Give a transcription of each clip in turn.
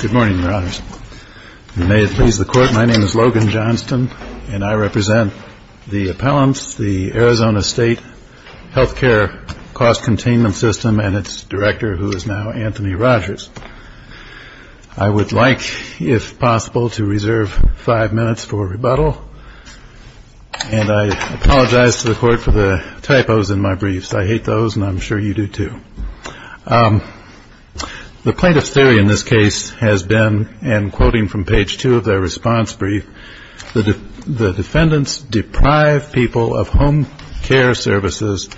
Good morning, Your Honors. May it please the Court, my name is Logan Johnston, and I represent the appellants, the Arizona State Healthcare Cost Containment System, and its director, who is now Anthony Rogers. I would like, if possible, to reserve five minutes for rebuttal, and I apologize to the Court for the typos in my briefs. I hate those, and I'm sure you do too. The plaintiff's theory in this case has been, and quoting from page 2 of their response brief, the defendants deprive people of home care services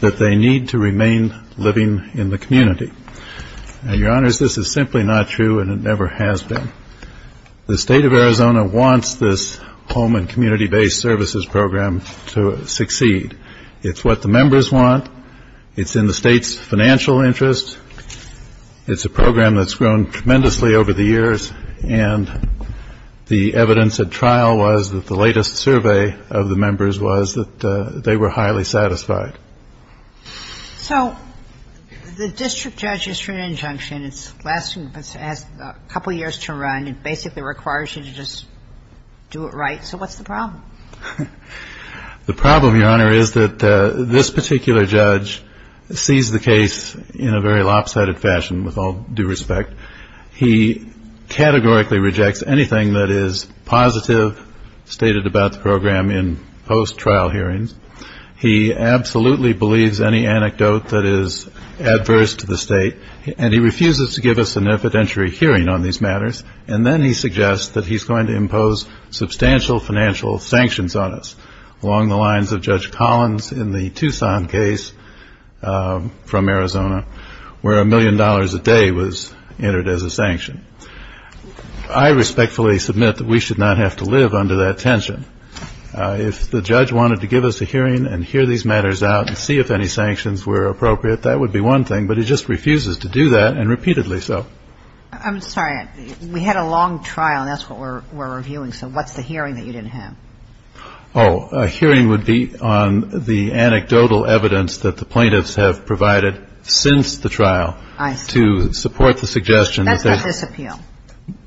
that they need to remain living in the community. Your Honors, this is simply not true, and it never has been. The State of Arizona wants this home and community-based services program to succeed. It's what the members want. It's in the State's financial interest. It's a program that's grown tremendously over the years, and the evidence at trial was that the latest survey of the members was that they were highly satisfied. So the district judge issued an injunction. It's lasting a couple of years to run. It basically requires you to just do it right. So what's the problem? The problem, Your Honor, is that this particular judge sees the case in a very lopsided fashion, with all due respect. He categorically rejects anything that is positive stated about the program in post-trial hearings. He absolutely believes any anecdote that is adverse to the State, and he refuses to give us an evidentiary hearing on these matters. And then he suggests that he's going to impose substantial financial sanctions on us, along the lines of Judge Collins in the Tucson case from Arizona, where a million dollars a day was entered as a sanction. I respectfully submit that we should not have to live under that tension. If the judge wanted to give us a hearing and hear these matters out and see if any sanctions were appropriate, that would be one thing, but he just refuses to do that, and repeatedly so. I'm sorry. We had a long trial, and that's what we're reviewing. So what's the hearing that you didn't have? Oh, a hearing would be on the anecdotal evidence that the plaintiffs have provided since the trial. I see. To support the suggestion that they – That's not this appeal.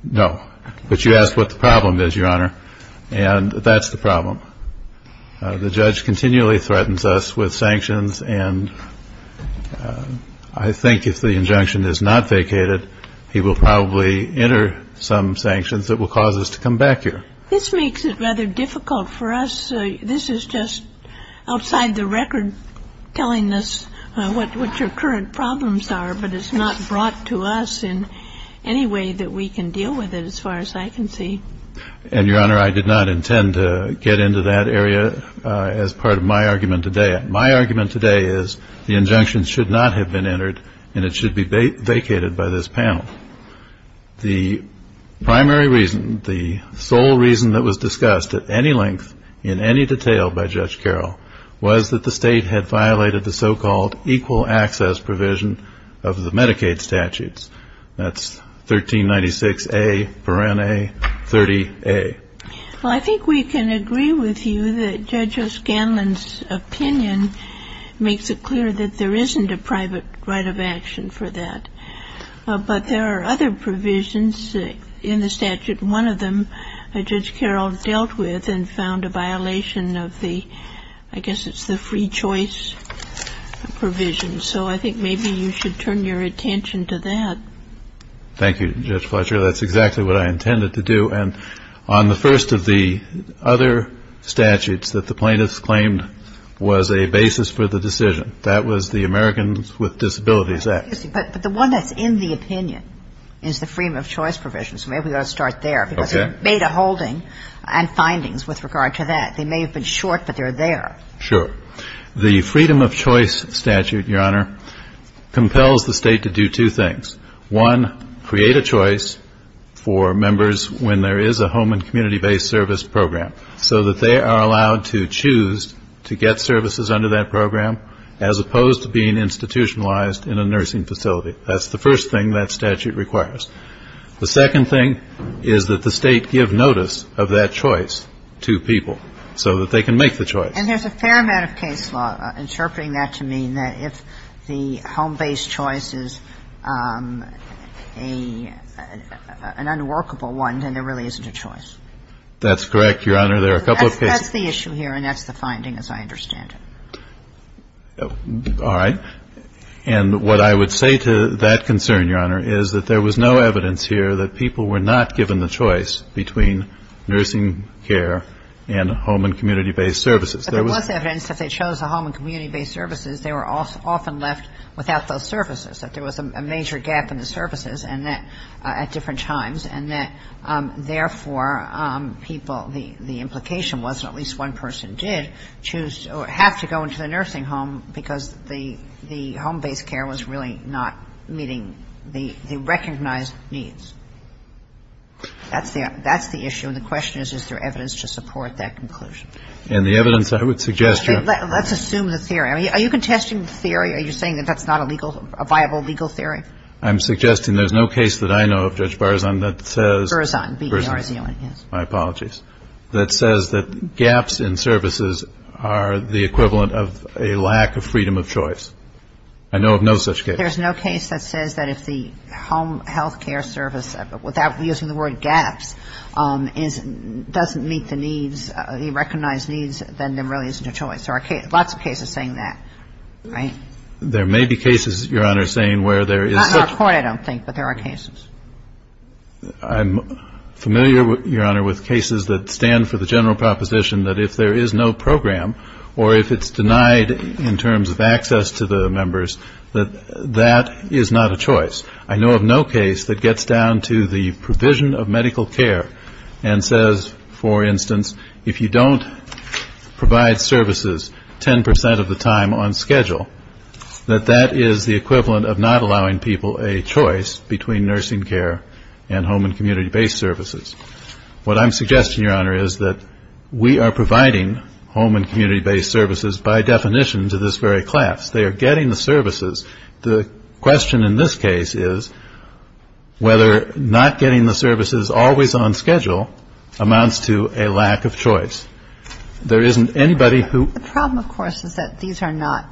No. But you asked what the problem is, Your Honor, and that's the problem. The judge continually threatens us with sanctions, and I think if the injunction is not vacated, he will probably enter some sanctions that will cause us to come back here. This makes it rather difficult for us. This is just outside the record telling us what your current problems are, but it's not brought to us in any way that we can deal with it, as far as I can see. And, Your Honor, I did not intend to get into that area as part of my argument today. My argument today is the injunction should not have been entered, and it should be vacated by this panel. The primary reason, the sole reason that was discussed at any length, in any detail by Judge Carroll, was that the State had violated the so-called equal access provision of the Medicaid statutes. That's 1396A. Well, I think we can agree with you that Judge O'Scanlan's opinion makes it clear that there isn't a private right of action for that. But there are other provisions in the statute. One of them Judge Carroll dealt with and found a violation of the – I guess it's the free choice provision. So I think maybe you should turn your attention to that. Thank you, Judge Fletcher. That's exactly what I intended to do. And on the first of the other statutes that the plaintiffs claimed was a basis for the decision, that was the Americans with Disabilities Act. But the one that's in the opinion is the freedom of choice provision, so maybe we ought to start there. Okay. Because it made a holding on findings with regard to that. They may have been short, but they're there. Sure. The freedom of choice statute, Your Honor, compels the State to do two things. One, create a choice for members when there is a home and community-based service program, so that they are allowed to choose to get services under that program as opposed to being institutionalized in a nursing facility. That's the first thing that statute requires. The second thing is that the State give notice of that choice to people so that they can make the choice. And there's a fair amount of case law interpreting that to mean that if the home-based choice is an unworkable one, then there really isn't a choice. That's correct, Your Honor. There are a couple of cases. That's the issue here, and that's the finding, as I understand it. All right. And what I would say to that concern, Your Honor, is that there was no evidence here that people were not given the choice between nursing care and home and community-based services. But there was evidence that if they chose a home and community-based services, they were often left without those services, that there was a major gap in the services at different times, and that, therefore, people, the implication was that at least one person did choose or have to go into the nursing home because the home-based care was really not meeting the recognized needs. That's the issue. And the question is, is there evidence to support that conclusion? And the evidence I would suggest, Your Honor. Let's assume the theory. Are you contesting the theory? Are you saying that that's not a legal, a viable legal theory? I'm suggesting there's no case that I know of, Judge Berzon, that says — Berzon, B-E-R-Z-O-N, yes. My apologies. That says that gaps in services are the equivalent of a lack of freedom of choice. I know of no such case. There's no case that says that if the home healthcare service, without using the word gaps, doesn't meet the needs, the recognized needs, then there really isn't a choice. There are lots of cases saying that, right? There may be cases, Your Honor, saying where there is — Not in our court, I don't think, but there are cases. I'm familiar, Your Honor, with cases that stand for the general proposition that if there is no program or if it's denied in terms of access to the members, that that is not a choice. I know of no case that gets down to the provision of medical care and says, for instance, if you don't provide services 10 percent of the time on schedule, that that is the equivalent of not allowing people a choice between nursing care and home and community-based services. What I'm suggesting, Your Honor, is that we are providing home and community-based services, by definition, to this very class. They are getting the services. The question in this case is whether not getting the services always on schedule amounts to a lack of choice. There isn't anybody who — The problem, of course, is that these are not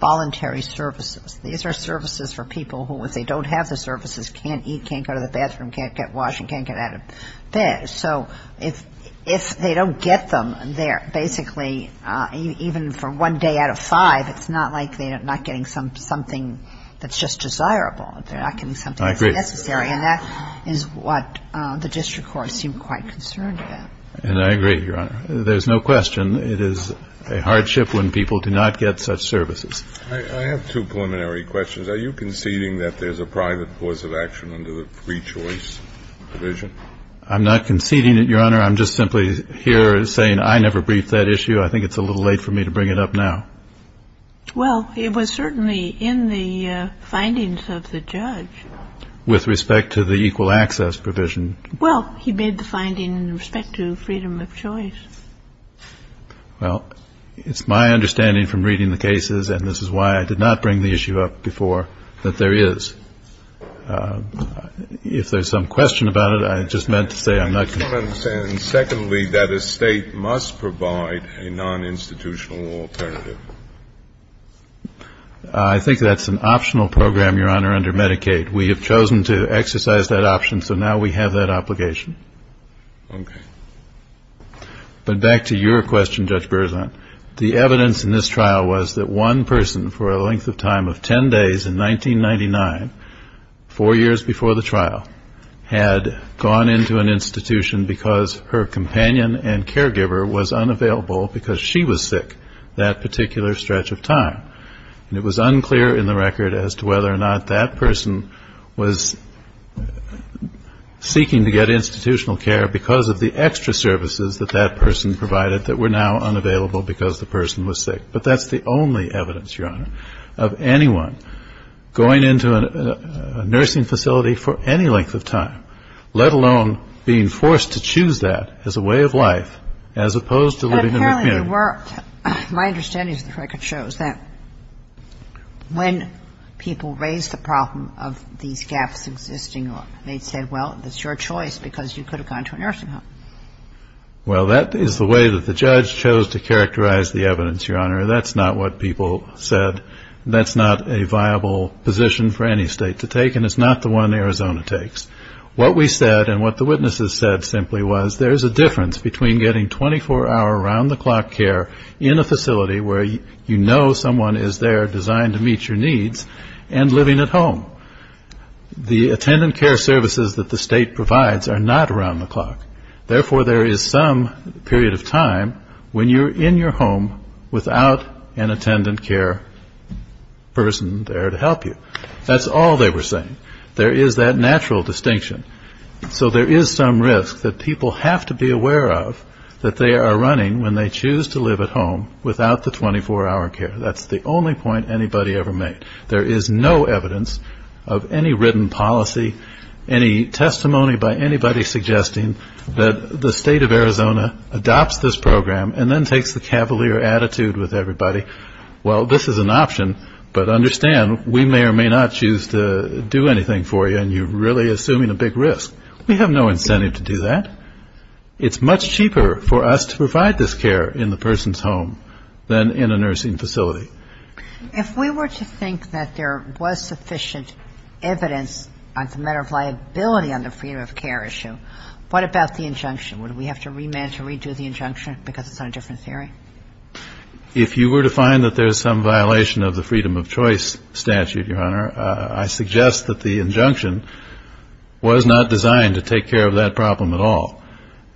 voluntary services. These are services for people who, if they don't have the services, can't eat, can't go to the bathroom, can't get washed and can't get out of bed. So if they don't get them, they're basically, even for one day out of five, it's not like they're not getting something that's just desirable. They're not getting something that's necessary. I agree. And that is what the district courts seem quite concerned about. And I agree, Your Honor. There's no question it is a hardship when people do not get such services. I have two preliminary questions. Are you conceding that there's a private cause of action under the free choice provision? I'm not conceding it, Your Honor. I'm just simply here saying I never briefed that issue. I think it's a little late for me to bring it up now. Well, it was certainly in the findings of the judge. With respect to the equal access provision? Well, he made the finding in respect to freedom of choice. Well, it's my understanding from reading the cases, and this is why I did not bring the issue up before, that there is. If there's some question about it, I just meant to say I'm not concerned. And secondly, that a State must provide a non-institutional alternative. I think that's an optional program, Your Honor, under Medicaid. We have chosen to exercise that option, so now we have that obligation. Okay. But back to your question, Judge Berzant. The evidence in this trial was that one person for a length of time of 10 days in 1999, four years before the trial, had gone into an institution because her companion and caregiver was unavailable because she was sick that particular stretch of time. And it was unclear in the record as to whether or not that person was seeking to get institutional care because of the extra services that that person provided that were now unavailable because the person was sick. But that's the only evidence, Your Honor, of anyone going into a nursing facility for any length of time, let alone being forced to choose that as a way of life as opposed to living in a community. But apparently there were. My understanding of the record shows that when people raised the problem of these gaps existing, they'd say, well, it's your choice because you could have gone to a nursing home. Well, that is the way that the judge chose to characterize the evidence, Your Honor. That's not what people said. That's not a viable position for any state to take, and it's not the one Arizona takes. What we said and what the witnesses said simply was there is a difference between getting 24-hour, around-the-clock care in a facility where you know someone is there designed to meet your needs and living at home. The attendant care services that the state provides are not around-the-clock. Therefore, there is some period of time when you're in your home without an attendant care person there to help you. That's all they were saying. There is that natural distinction. So there is some risk that people have to be aware of that they are running, when they choose to live at home, without the 24-hour care. That's the only point anybody ever made. There is no evidence of any written policy, any testimony by anybody suggesting that the state of Arizona adopts this program and then takes the cavalier attitude with everybody. Well, this is an option, but understand, we may or may not choose to do anything for you, and you're really assuming a big risk. We have no incentive to do that. It's much cheaper for us to provide this care in the person's home than in a nursing facility. If we were to think that there was sufficient evidence as a matter of liability on the freedom of care issue, what about the injunction? Would we have to remand to redo the injunction because it's on a different theory? If you were to find that there's some violation of the freedom of choice statute, Your Honor, I suggest that the injunction was not designed to take care of that problem at all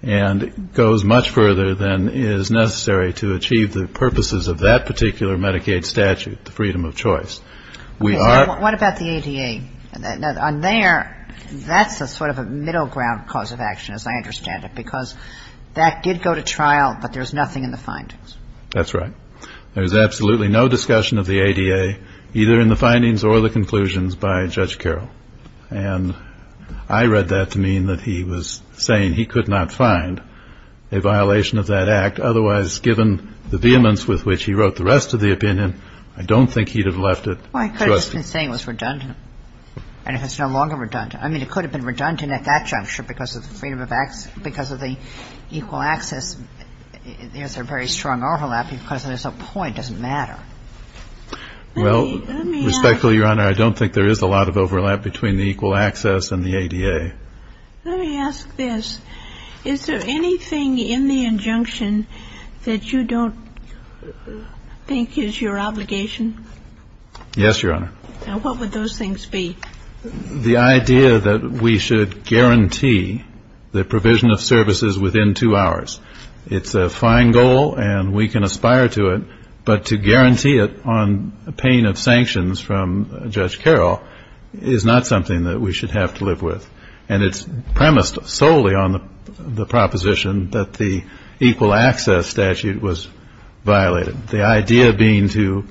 and goes much further than is necessary to achieve the purposes of that particular Medicaid statute, the freedom of choice. What about the ADA? On there, that's a sort of a middle ground cause of action, as I understand it, because that did go to trial, but there's nothing in the findings. That's right. There's absolutely no discussion of the ADA, either in the findings or the conclusions, by Judge Carroll. And I read that to mean that he was saying he could not find a violation of that act. Otherwise, given the vehemence with which he wrote the rest of the opinion, I don't think he'd have left it. Well, I could have just been saying it was redundant, and if it's no longer redundant. I mean, it could have been redundant at that juncture because of the freedom of access, because of the equal access. There's a very strong overlap because there's no point. It doesn't matter. Well, respectfully, Your Honor, I don't think there is a lot of overlap between the equal access and the ADA. Let me ask this. Is there anything in the injunction that you don't think is your obligation? Yes, Your Honor. And what would those things be? The idea that we should guarantee the provision of services within two hours. It's a fine goal, and we can aspire to it, but to guarantee it on pain of sanctions from Judge Carroll is not something that we should have to live with. And it's premised solely on the proposition that the equal access statute was violated, the idea being to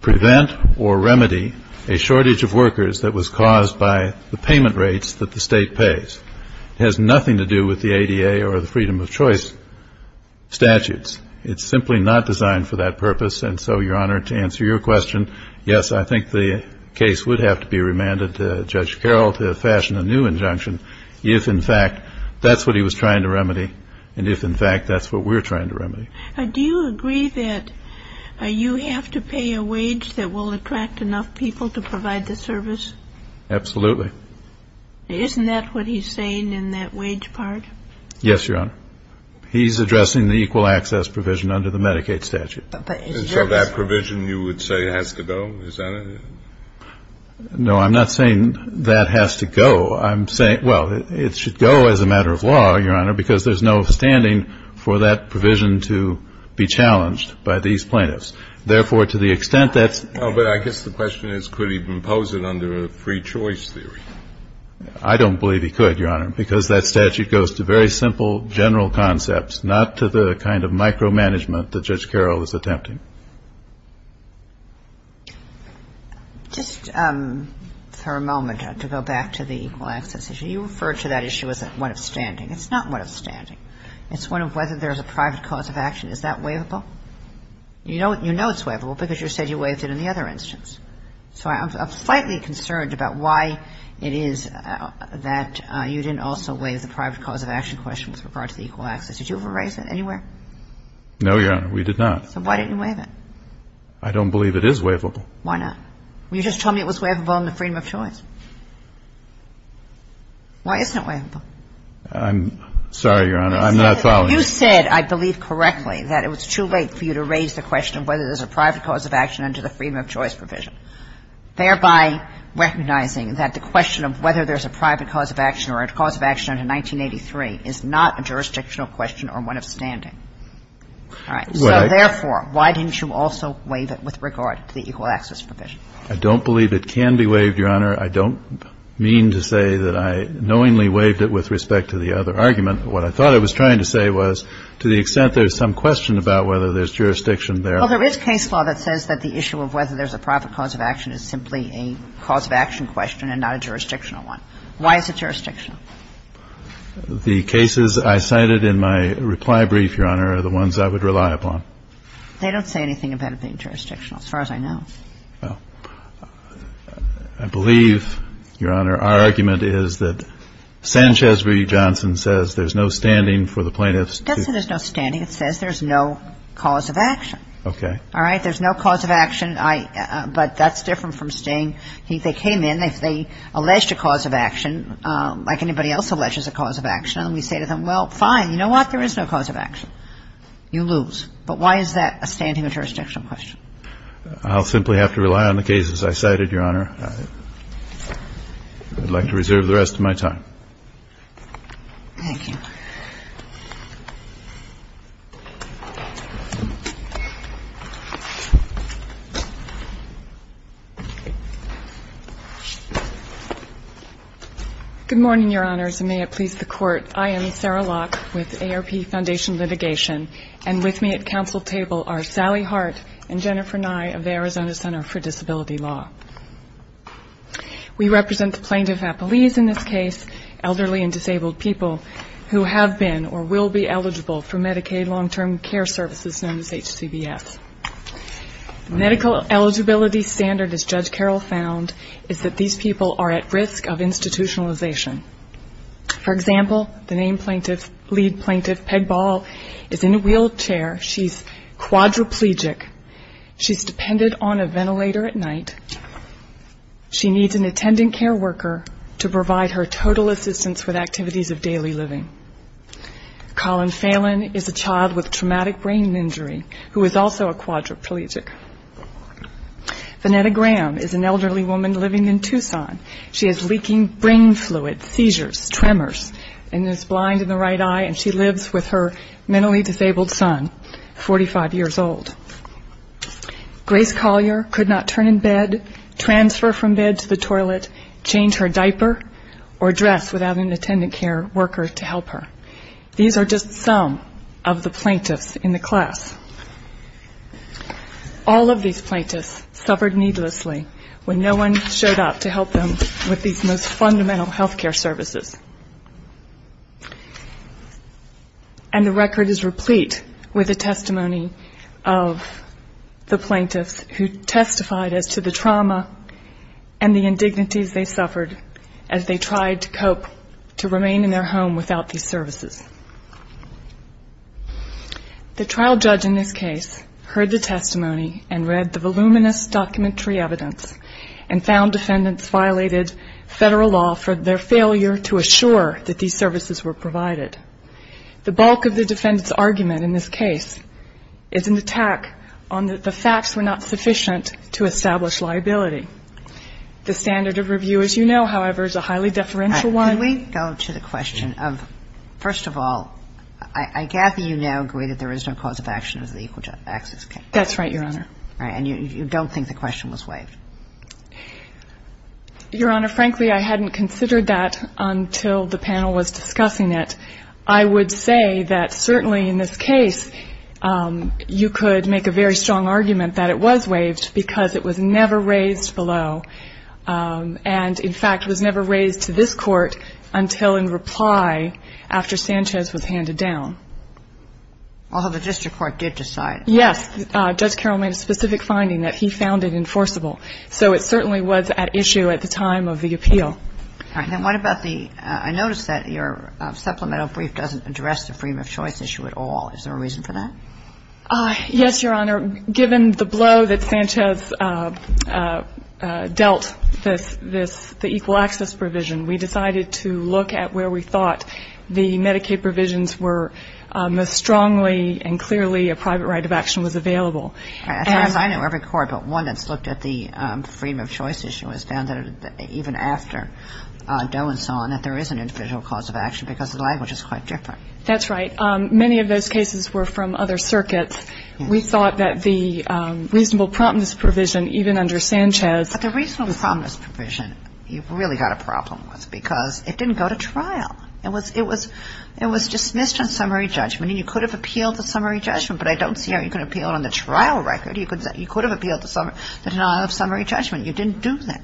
prevent or remedy a shortage of workers that was caused by the payment rates that the state pays. It has nothing to do with the ADA or the freedom of choice statutes. It's simply not designed for that purpose. And so, Your Honor, to answer your question, yes, I think the case would have to be remanded to Judge Carroll to fashion a new injunction if, in fact, that's what he was trying to remedy and if, in fact, that's what we're trying to remedy. Do you agree that you have to pay a wage that will attract enough people to provide the service? Absolutely. Isn't that what he's saying in that wage part? Yes, Your Honor. He's addressing the equal access provision under the Medicaid statute. So that provision, you would say, has to go? Is that it? No, I'm not saying that has to go. I'm saying, well, it should go as a matter of law, Your Honor, because there's no standing for that provision to be challenged by these plaintiffs. Therefore, to the extent that's the case. The question is, could he impose it under a free choice theory? I don't believe he could, Your Honor, because that statute goes to very simple, general concepts, not to the kind of micromanagement that Judge Carroll is attempting. Just for a moment, to go back to the equal access issue. You referred to that issue as one of standing. It's not one of standing. It's one of whether there's a private cause of action. Is that waivable? You know it's waivable because you said you waived it in the other instance. So I'm slightly concerned about why it is that you didn't also waive the private cause of action question with regard to the equal access. Did you ever raise that anywhere? No, Your Honor, we did not. So why didn't you waive it? I don't believe it is waivable. Why not? You just told me it was waivable under freedom of choice. Why isn't it waivable? I'm sorry, Your Honor. I'm not following. You said, I believe correctly, that it was too late for you to raise the question of whether there's a private cause of action under the freedom of choice provision. Thereby recognizing that the question of whether there's a private cause of action or a cause of action under 1983 is not a jurisdictional question or one of standing. All right. So therefore, why didn't you also waive it with regard to the equal access provision? I don't believe it can be waived, Your Honor. I don't mean to say that I knowingly waived it with respect to the other argument. What I thought I was trying to say was to the extent there's some question about whether there's jurisdiction there. Well, there is case law that says that the issue of whether there's a private cause of action is simply a cause of action question and not a jurisdictional one. Why is it jurisdictional? The cases I cited in my reply brief, Your Honor, are the ones I would rely upon. They don't say anything about it being jurisdictional as far as I know. Well, I believe, Your Honor, our argument is that Sanchez v. Johnson says there's no standing for the plaintiffs to. It doesn't say there's no standing. It says there's no cause of action. Okay. All right. There's no cause of action. But that's different from staying. They came in. If they alleged a cause of action, like anybody else alleges a cause of action, and we say to them, well, fine, you know what? There is no cause of action. You lose. But why is that a standing or jurisdictional question? I'll simply have to rely on the cases I cited, Your Honor. I'd like to reserve the rest of my time. Thank you. Good morning, Your Honors, and may it please the Court. I am Sarah Locke with AARP Foundation Litigation, and with me at council table are Sally Hart and Jennifer Nye of the Arizona Center for Disability Law. We represent the plaintiff at police in this case, elderly and disabled people, who are being charged with a criminal offense. Who have been or will be eligible for Medicaid long-term care services, known as HCBS. Medical eligibility standard, as Judge Carroll found, is that these people are at risk of institutionalization. For example, the named lead plaintiff, Peg Ball, is in a wheelchair. She's quadriplegic. She's dependent on a ventilator at night. She needs an attendant care worker to provide her total assistance with activities of daily living. Colin Phelan is a child with traumatic brain injury who is also a quadriplegic. Venetta Graham is an elderly woman living in Tucson. She has leaking brain fluid, seizures, tremors, and is blind in the right eye, and she lives with her mentally disabled son, 45 years old. Grace Collier could not turn in bed, transfer from bed to the toilet, change her diaper, or dress without an attendant care worker to help her. These are just some of the plaintiffs in the class. All of these plaintiffs suffered needlessly when no one showed up to help them with these most fundamental health care services. And the record is replete with a testimony of the plaintiffs who testified as to the trauma and the indignities they suffered as they tried to cope to remain in their home without these services. The trial judge in this case heard the testimony and read the voluminous documentary evidence and found defendants violated Federal law for their failure to assure that these services were provided. The bulk of the defendant's argument in this case is an attack on that the facts were not sufficient to establish liability. The standard of review, as you know, however, is a highly deferential one. Can we go to the question of, first of all, I gather you now agree that there is no cause of action of the equal access case. That's right, Your Honor. And you don't think the question was waived. Your Honor, frankly, I hadn't considered that until the panel was discussing it. I would say that certainly in this case you could make a very strong argument that it was waived because it was never raised below. And, in fact, it was never raised to this Court until in reply after Sanchez was handed down. Although the district court did decide. Yes. Judge Carroll made a specific finding that he found it enforceable. So it certainly was at issue at the time of the appeal. All right. And what about the, I noticed that your supplemental brief doesn't address the freedom of choice issue at all. Is there a reason for that? Yes, Your Honor. Given the blow that Sanchez dealt this, this, the equal access provision, we decided to look at where we thought the Medicaid provisions were most strongly and clearly a private right of action was available. As I know, every court, but one that's looked at the freedom of choice issue has found that even after Doe and so on, that there is an individual cause of action because the language is quite different. That's right. Many of those cases were from other circuits. We thought that the reasonable promptness provision, even under Sanchez. But the reasonable promptness provision you've really got a problem with because it didn't go to trial. It was dismissed on summary judgment. And you could have appealed the summary judgment, but I don't see how you can appeal it on the trial record. You could have appealed the denial of summary judgment. You didn't do that.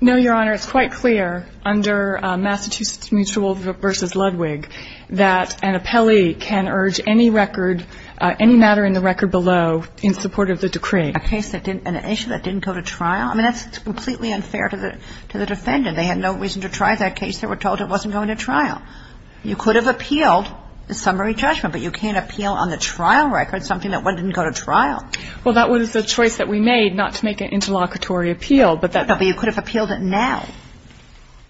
No, Your Honor. It's quite clear under Massachusetts Mutual v. Ludwig that an appellee can urge any record, any matter in the record below in support of the decree. A case that didn't, an issue that didn't go to trial? I mean, that's completely unfair to the defendant. They had no reason to try that case. They were told it wasn't going to trial. You could have appealed the summary judgment, but you can't appeal on the trial record something that didn't go to trial. Well, that was the choice that we made, not to make an interlocutory appeal. No, but you could have appealed it now.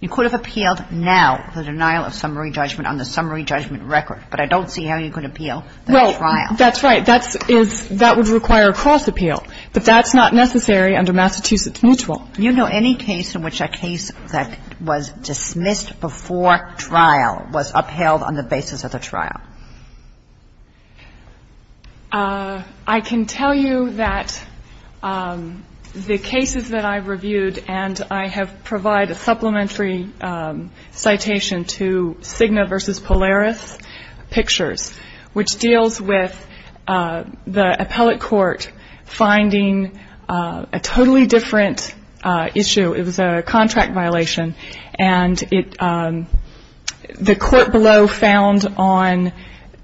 You could have appealed now the denial of summary judgment on the summary judgment record, but I don't see how you could appeal the trial. Well, that's right. That would require a cross appeal, but that's not necessary under Massachusetts Mutual. Do you know any case in which a case that was dismissed before trial was upheld on the basis of the trial? I can tell you that the cases that I've reviewed, and I have provided a supplementary citation to Cigna v. Polaris Pictures, which deals with the appellate court finding a totally different issue. It was a contract violation, and the court below found on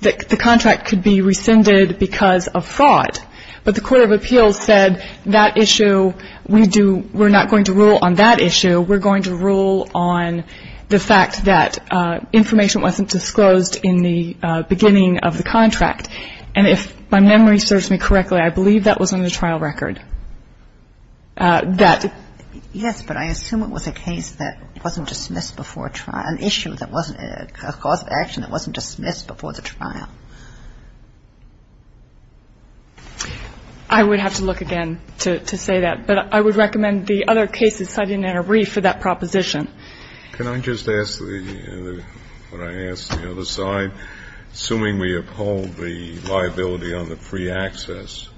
the contract could be rescinded because of fraud. But the court of appeals said that issue, we're not going to rule on that issue. We're going to rule on the fact that information wasn't disclosed in the beginning of the contract. And if my memory serves me correctly, I believe that was on the trial record. Yes, but I assume it was a case that wasn't dismissed before trial, an issue that wasn't a cause of action that wasn't dismissed before the trial. I would have to look again to say that. But I would recommend the other cases cited in a brief for that proposition. Can I just ask the, when I ask the other side, assuming we uphold the liability on the free access,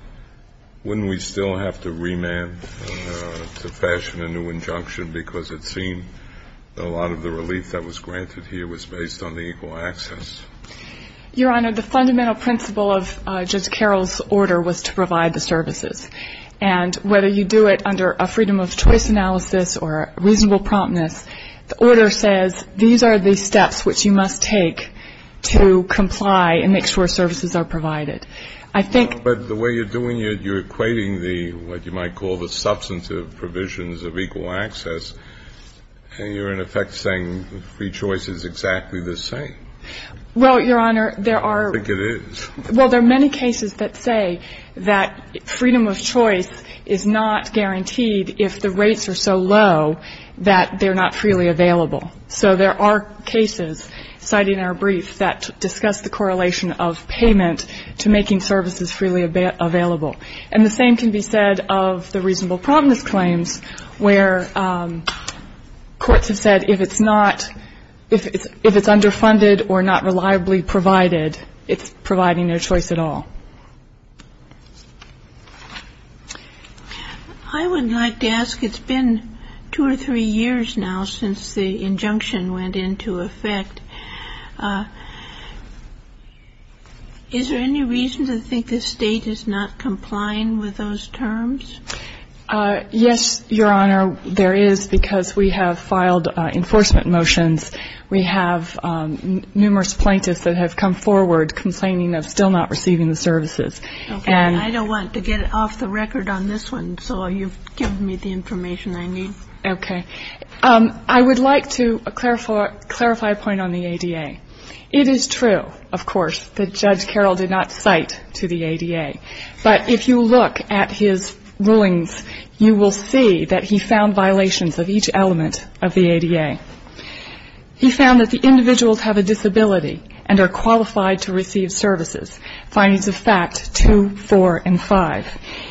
wouldn't we still have to remand to fashion a new injunction because it seemed a lot of the relief that was granted here was based on the equal access? Your Honor, the fundamental principle of Judge Carroll's order was to provide the services. And whether you do it under a freedom of choice analysis or reasonable promptness, the order says these are the steps which you must take to comply and make sure services are provided. I think the way you're doing it, you're equating the, what you might call the substantive provisions of equal access. And you're in effect saying free choice is exactly the same. Well, Your Honor, there are. I think it is. Well, there are many cases that say that freedom of choice is not guaranteed if the rates are so low that they're not freely available. So there are cases cited in our brief that discuss the correlation of payment to making services freely available. And the same can be said of the reasonable promptness claims where courts have said that if it's not, if it's underfunded or not reliably provided, it's providing no choice at all. I would like to ask, it's been two or three years now since the injunction went into effect. Is there any reason to think the State is not complying with those terms? Yes, Your Honor, there is, because we have filed enforcement motions. We have numerous plaintiffs that have come forward complaining of still not receiving the services. Okay. I don't want to get off the record on this one, so you've given me the information I need. Okay. I would like to clarify a point on the ADA. It is true, of course, that Judge Carroll did not cite to the ADA. But if you look at his rulings, you will see that he found violations of each element of the ADA. He found that the individuals have a disability and are qualified to receive services, findings of fact two, four, and five.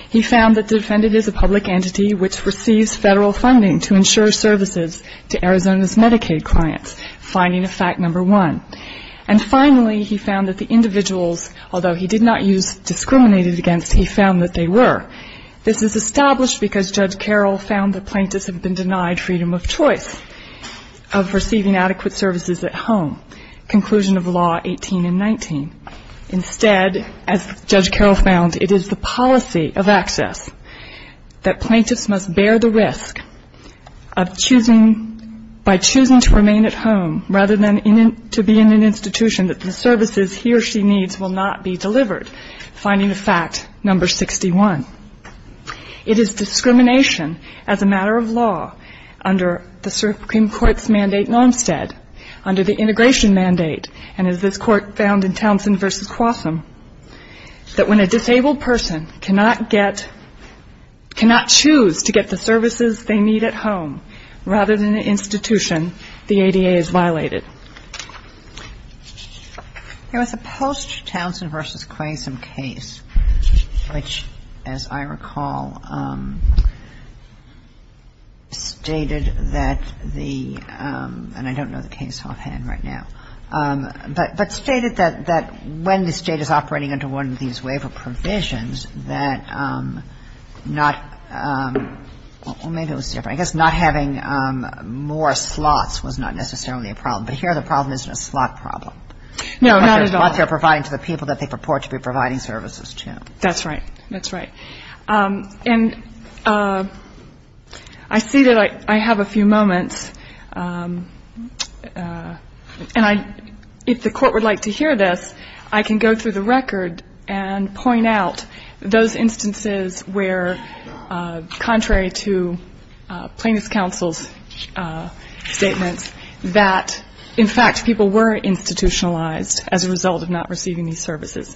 He found that the defendant is a public entity which receives federal funding to ensure services to Arizona's Medicaid clients, finding of fact number one. And finally, he found that the individuals, although he did not use discriminated against, he found that they were. This is established because Judge Carroll found that plaintiffs have been denied freedom of choice of receiving adequate services at home, conclusion of law 18 and 19. Instead, as Judge Carroll found, it is the policy of access that plaintiffs must bear the risk of choosing to remain at home rather than to be in an institution that the services he or she needs will not be delivered, finding of fact number 61. It is discrimination as a matter of law under the Supreme Court's mandate in Olmstead, under the integration mandate, and as this Court found in Townsend v. Quasim, that when a disabled person cannot get, cannot choose to get the services they need at home rather than an institution, the ADA is violated. Kagan. There was a post-Townsend v. Quasim case which, as I recall, stated that the, and I don't know the case offhand right now, but stated that when the State is operating under one of these waiver provisions, that not, well, maybe it was different. I guess not having more slots was not necessarily a problem. But here the problem isn't a slot problem. No, not at all. What they're providing to the people that they purport to be providing services to. That's right. That's right. And I see that I have a few moments, and I, if the Court would like to hear this, I can go through the record and point out those instances where, contrary to Plaintiff's Counsel's statements, that, in fact, people were institutionalized as a result of not receiving these services.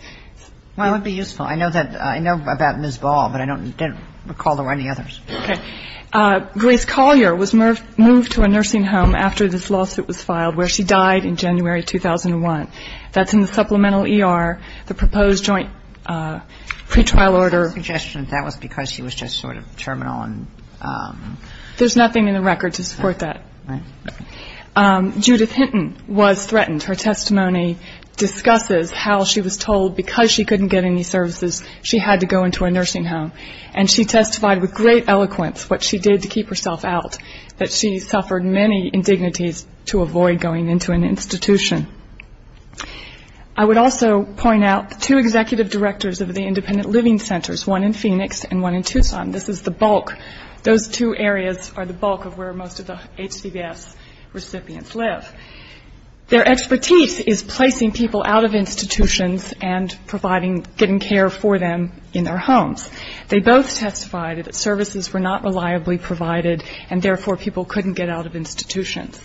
Well, it would be useful. I know that, I know about Ms. Ball, but I don't recall there were any others. Okay. Grace Collier was moved to a nursing home after this lawsuit was filed, where she died in January 2001. That's in the supplemental ER, the proposed joint pretrial order. My suggestion is that was because she was just sort of terminal. There's nothing in the record to support that. Right. Judith Hinton was threatened. Her testimony discusses how she was told because she couldn't get any services, she had to go into a nursing home. And she testified with great eloquence what she did to keep herself out, that she suffered many indignities to avoid going into an institution. I would also point out the two executive directors of the independent living centers, one in Phoenix and one in Tucson. This is the bulk. Those two areas are the bulk of where most of the HCBS recipients live. Their expertise is placing people out of institutions and providing, getting care for them in their homes. They both testified that services were not reliably provided and, therefore, people couldn't get out of institutions.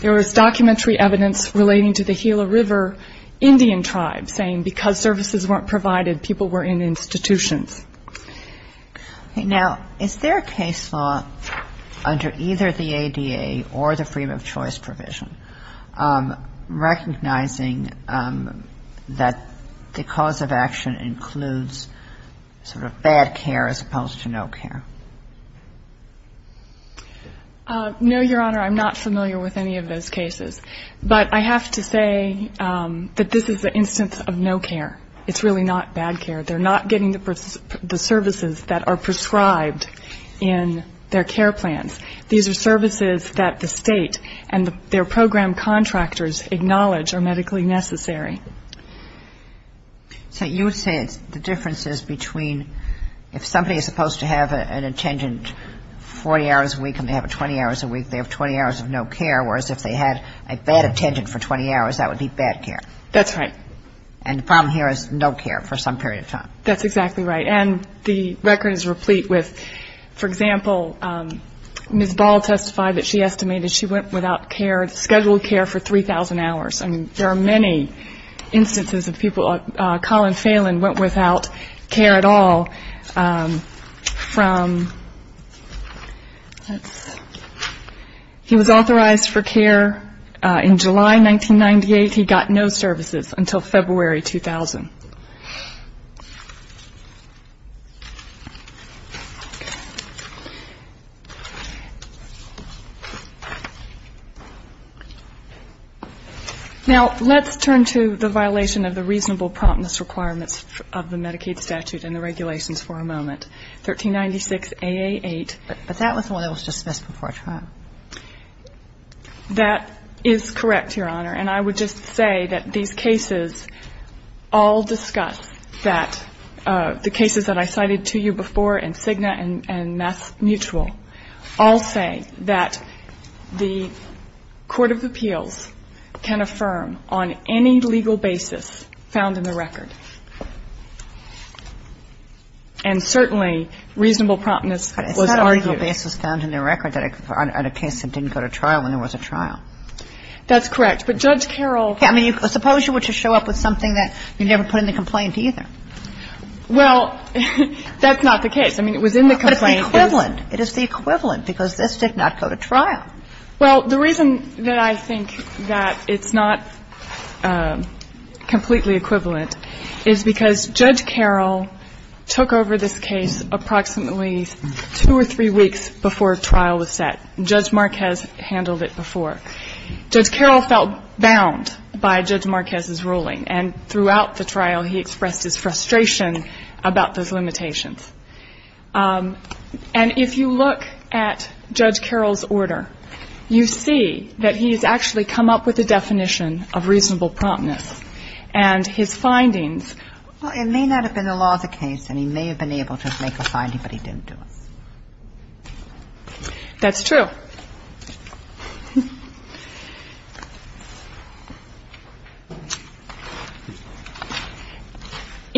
There was documentary evidence relating to the Gila River Indian tribe saying because services weren't provided, people were in institutions. Now, is there a case law under either the ADA or the Freedom of Choice provision recognizing that the cause of action includes sort of bad care as opposed to no care? No, Your Honor. I'm not familiar with any of those cases. But I have to say that this is an instance of no care. It's really not bad care. They're not getting the services that are prescribed in their care plans. These are services that the State and their program contractors acknowledge are medically necessary. So you would say the difference is between if somebody is supposed to have an attendant 40 hours a week and they have a 20 hours a week, they have 20 hours of no care, whereas if they had a bad attendant for 20 hours, that would be bad care. That's right. And the problem here is no care for some period of time. That's exactly right. And the record is replete with, for example, Ms. Ball testified that she estimated she went without care, scheduled care for 3,000 hours. I mean, there are many instances of people. Colin Phelan went without care at all from he was authorized for care in July 1998. He got no services until February 2000. Now, let's turn to the violation of the reasonable promptness requirements of the Medicaid statute and the regulations for a moment. 1396AA8. But that was the one that was dismissed before trial. That is correct, Your Honor. And I would just say that these cases all discuss that the cases that I cited to you before in Cigna and MassMutual all say that the court of appeals can affirm on any legal basis found in the record. And certainly reasonable promptness was argued. But is that legal basis found in the record, that a case that didn't go to trial when there was a trial? That's correct. But Judge Carroll I mean, suppose you were to show up with something that you never put in the complaint either. Well, that's not the case. I mean, it was in the complaint. But it's the equivalent. It is the equivalent because this did not go to trial. Well, the reason that I think that it's not completely equivalent is because Judge Carroll took over this case approximately two or three weeks before trial was set. Judge Marquez handled it before. Judge Carroll felt bound by Judge Marquez's ruling. And throughout the trial, he expressed his frustration about those limitations. And if you look at Judge Carroll's order, you see that he has actually come up with a definition of reasonable promptness. And his findings Well, it may not have been the law of the case, and he may have been able to make a finding, but he didn't do it. That's true.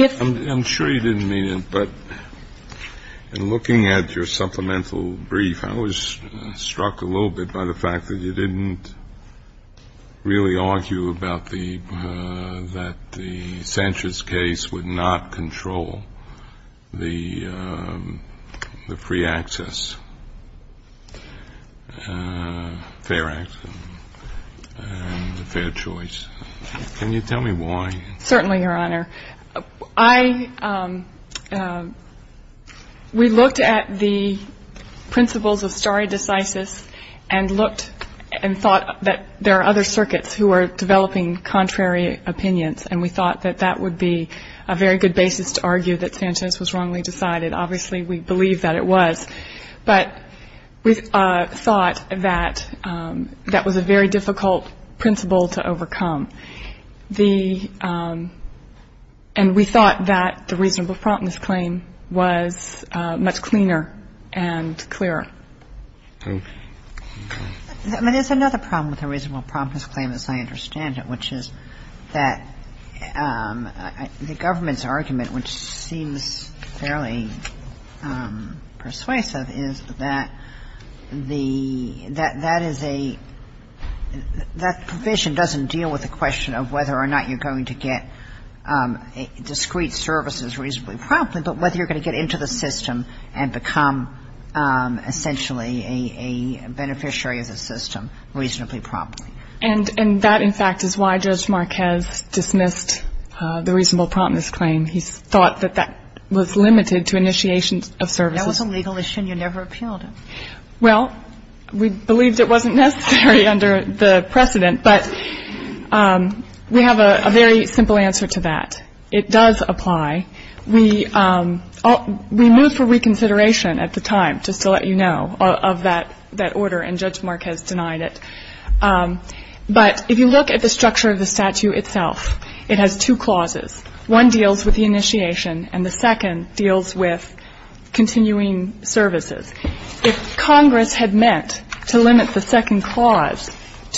I'm sure you didn't mean it, but in looking at your supplemental brief, I was struck a little bit by the fact that you didn't really argue about the that the Sanchez case would not control the free access, fair access, and the fair choice. Can you tell me why? Certainly, Your Honor. We looked at the principles of stare decisis and looked and thought that there are other circuits who are developing contrary opinions. And we thought that that would be a very good basis to argue that Sanchez was wrongly decided. Obviously, we believe that it was. But we thought that that was a very difficult principle to overcome. And we thought that the reasonable promptness claim was much cleaner and clearer. There's another problem with the reasonable promptness claim, as I understand it, which is that the government's argument, which seems fairly persuasive, is that the ‑‑ that that is a ‑‑ that provision doesn't deal with the question of whether or not you're going to get discrete services reasonably promptly, but whether you're going to get into the system and become essentially a beneficiary of the system reasonably promptly. And that, in fact, is why Judge Marquez dismissed the reasonable promptness claim. He thought that that was limited to initiation of services. That was a legal issue and you never appealed it. Well, we believed it wasn't necessary under the precedent. But we have a very simple answer to that. It does apply. We moved for reconsideration at the time, just to let you know, of that order, and Judge Marquez denied it. But if you look at the structure of the statute itself, it has two clauses. One deals with the initiation and the second deals with continuing services. If Congress had meant to limit the second clause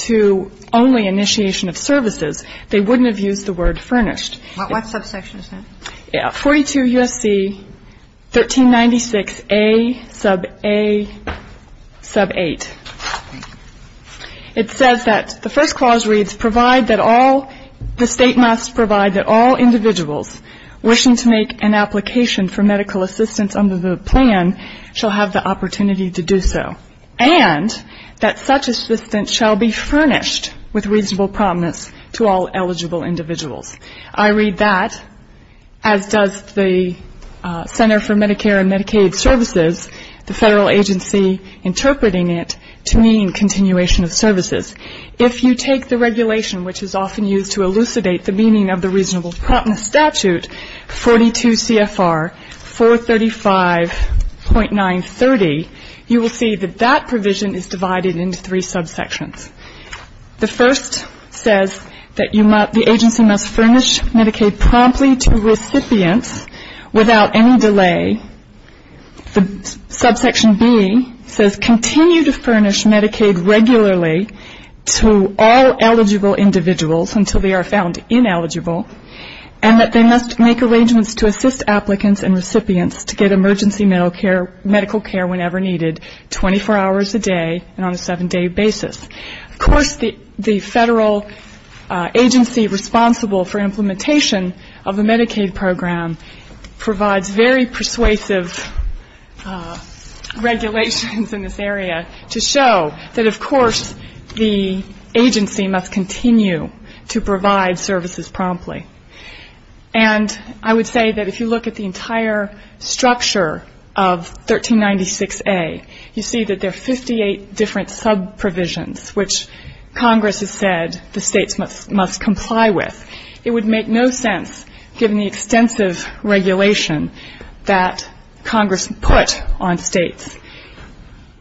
to only initiation of services, they wouldn't have used the word furnished. What subsection is that? 42 U.S.C. 1396A sub 8. It says that the first clause reads, provide that all the state must provide that all individuals wishing to make an application for medical assistance under the plan shall have the opportunity to do so, and that such assistance shall be furnished with reasonable promptness to all eligible individuals. I read that, as does the Center for Medicare and Medicaid Services, the federal agency interpreting it to mean continuation of services. If you take the regulation, which is often used to elucidate the meaning of the reasonable promptness statute, 42 CFR 435.930, you will see that that provision is divided into three subsections. The first says that the agency must furnish Medicaid promptly to recipients without any delay. The subsection B says continue to furnish Medicaid regularly to all eligible individuals until they are found ineligible, and that they must make arrangements to assist applicants and recipients to get emergency medical care whenever needed, 24 hours a day and on a seven-day basis. Of course, the federal agency responsible for implementation of the Medicaid program provides very persuasive regulations in this area to show that, of course, the agency must continue to provide services promptly. And I would say that if you look at the entire structure of 1396A, you see that there are 58 different subprovisions, which Congress has said the states must comply with. It would make no sense, given the extensive regulation that Congress put on states,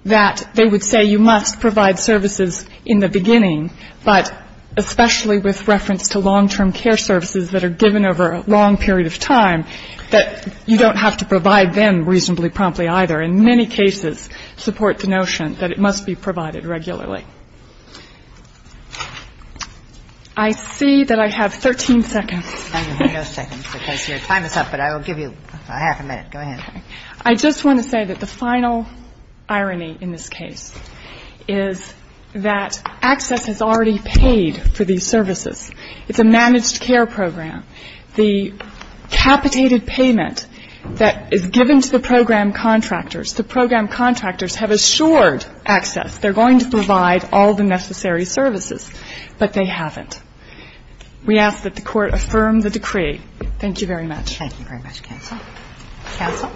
that they would say you must provide services in the beginning, but especially with reference to long-term care services that are given over a long period of time, that you don't have to provide them reasonably promptly either. In many cases, support the notion that it must be provided regularly. I see that I have 13 seconds. Kagan. No seconds, because your time is up, but I will give you half a minute. Go ahead. Okay. I just want to say that the final irony in this case is that ACCESS has already paid for these services. It's a managed care program. The capitated payment that is given to the program contractors, the program contractors have assured ACCESS they're going to provide all the necessary services, but they haven't. We ask that the Court affirm the decree. Thank you very much. Thank you very much, Counsel. Counsel.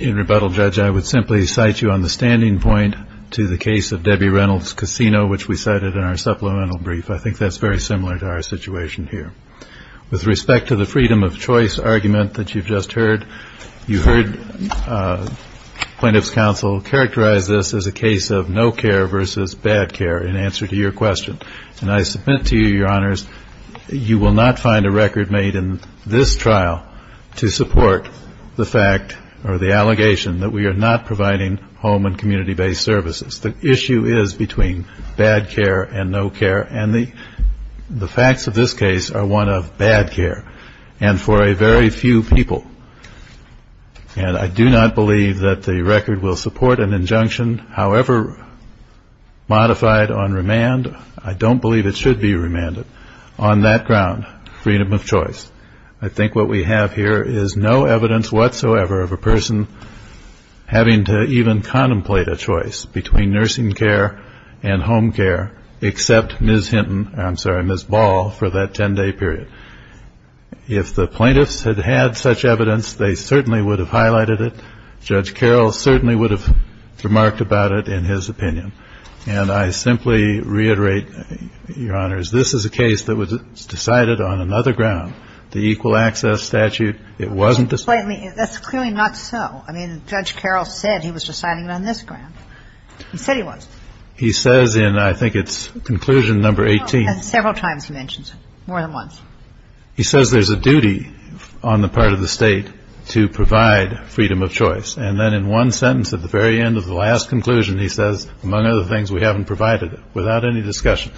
In rebuttal, Judge, I would simply cite you on the standing point to the case of Debbie Reynolds' casino, which we cited in our supplemental brief. I think that's very similar to our situation here. With respect to the freedom of choice argument that you've just heard, you heard plaintiff's counsel characterize this as a case of no care versus bad care in answer to your question. And I submit to you, Your Honors, you will not find a record made in this trial to support the fact or the allegation that we are not providing home and community-based services. The issue is between bad care and no care, and the facts of this case are one of bad care and for a very few people. And I do not believe that the record will support an injunction. However modified on remand, I don't believe it should be remanded. On that ground, freedom of choice. I think what we have here is no evidence whatsoever of a person having to even contemplate a choice between nursing care and home care except Ms. Hinton, I'm sorry, Ms. Ball, for that 10-day period. If the plaintiffs had had such evidence, they certainly would have highlighted it. Judge Carroll certainly would have remarked about it in his opinion. And I simply reiterate, Your Honors, this is a case that was decided on another ground. The Equal Access Statute, it wasn't decided on another ground. That's clearly not so. I mean, Judge Carroll said he was deciding it on this ground. He said he was. He says in, I think it's conclusion number 18. Several times he mentions it, more than once. He says there's a duty on the part of the State to provide freedom of choice. And then in one sentence at the very end of the last conclusion, he says, among other things, we haven't provided it without any discussion.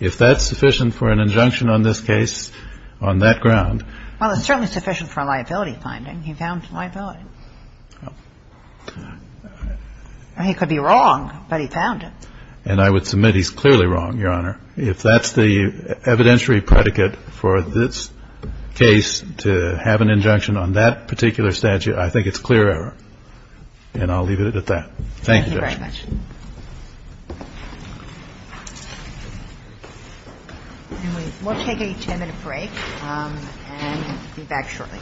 If that's sufficient for an injunction on this case on that ground. Well, it's certainly sufficient for a liability finding. He found a liability. He could be wrong, but he found it. And I would submit he's clearly wrong, Your Honor. If that's the evidentiary predicate for this case to have an injunction on that particular statute, I think it's clear error. And I'll leave it at that. Thank you, Judge. We'll take a 10-minute break and be back shortly.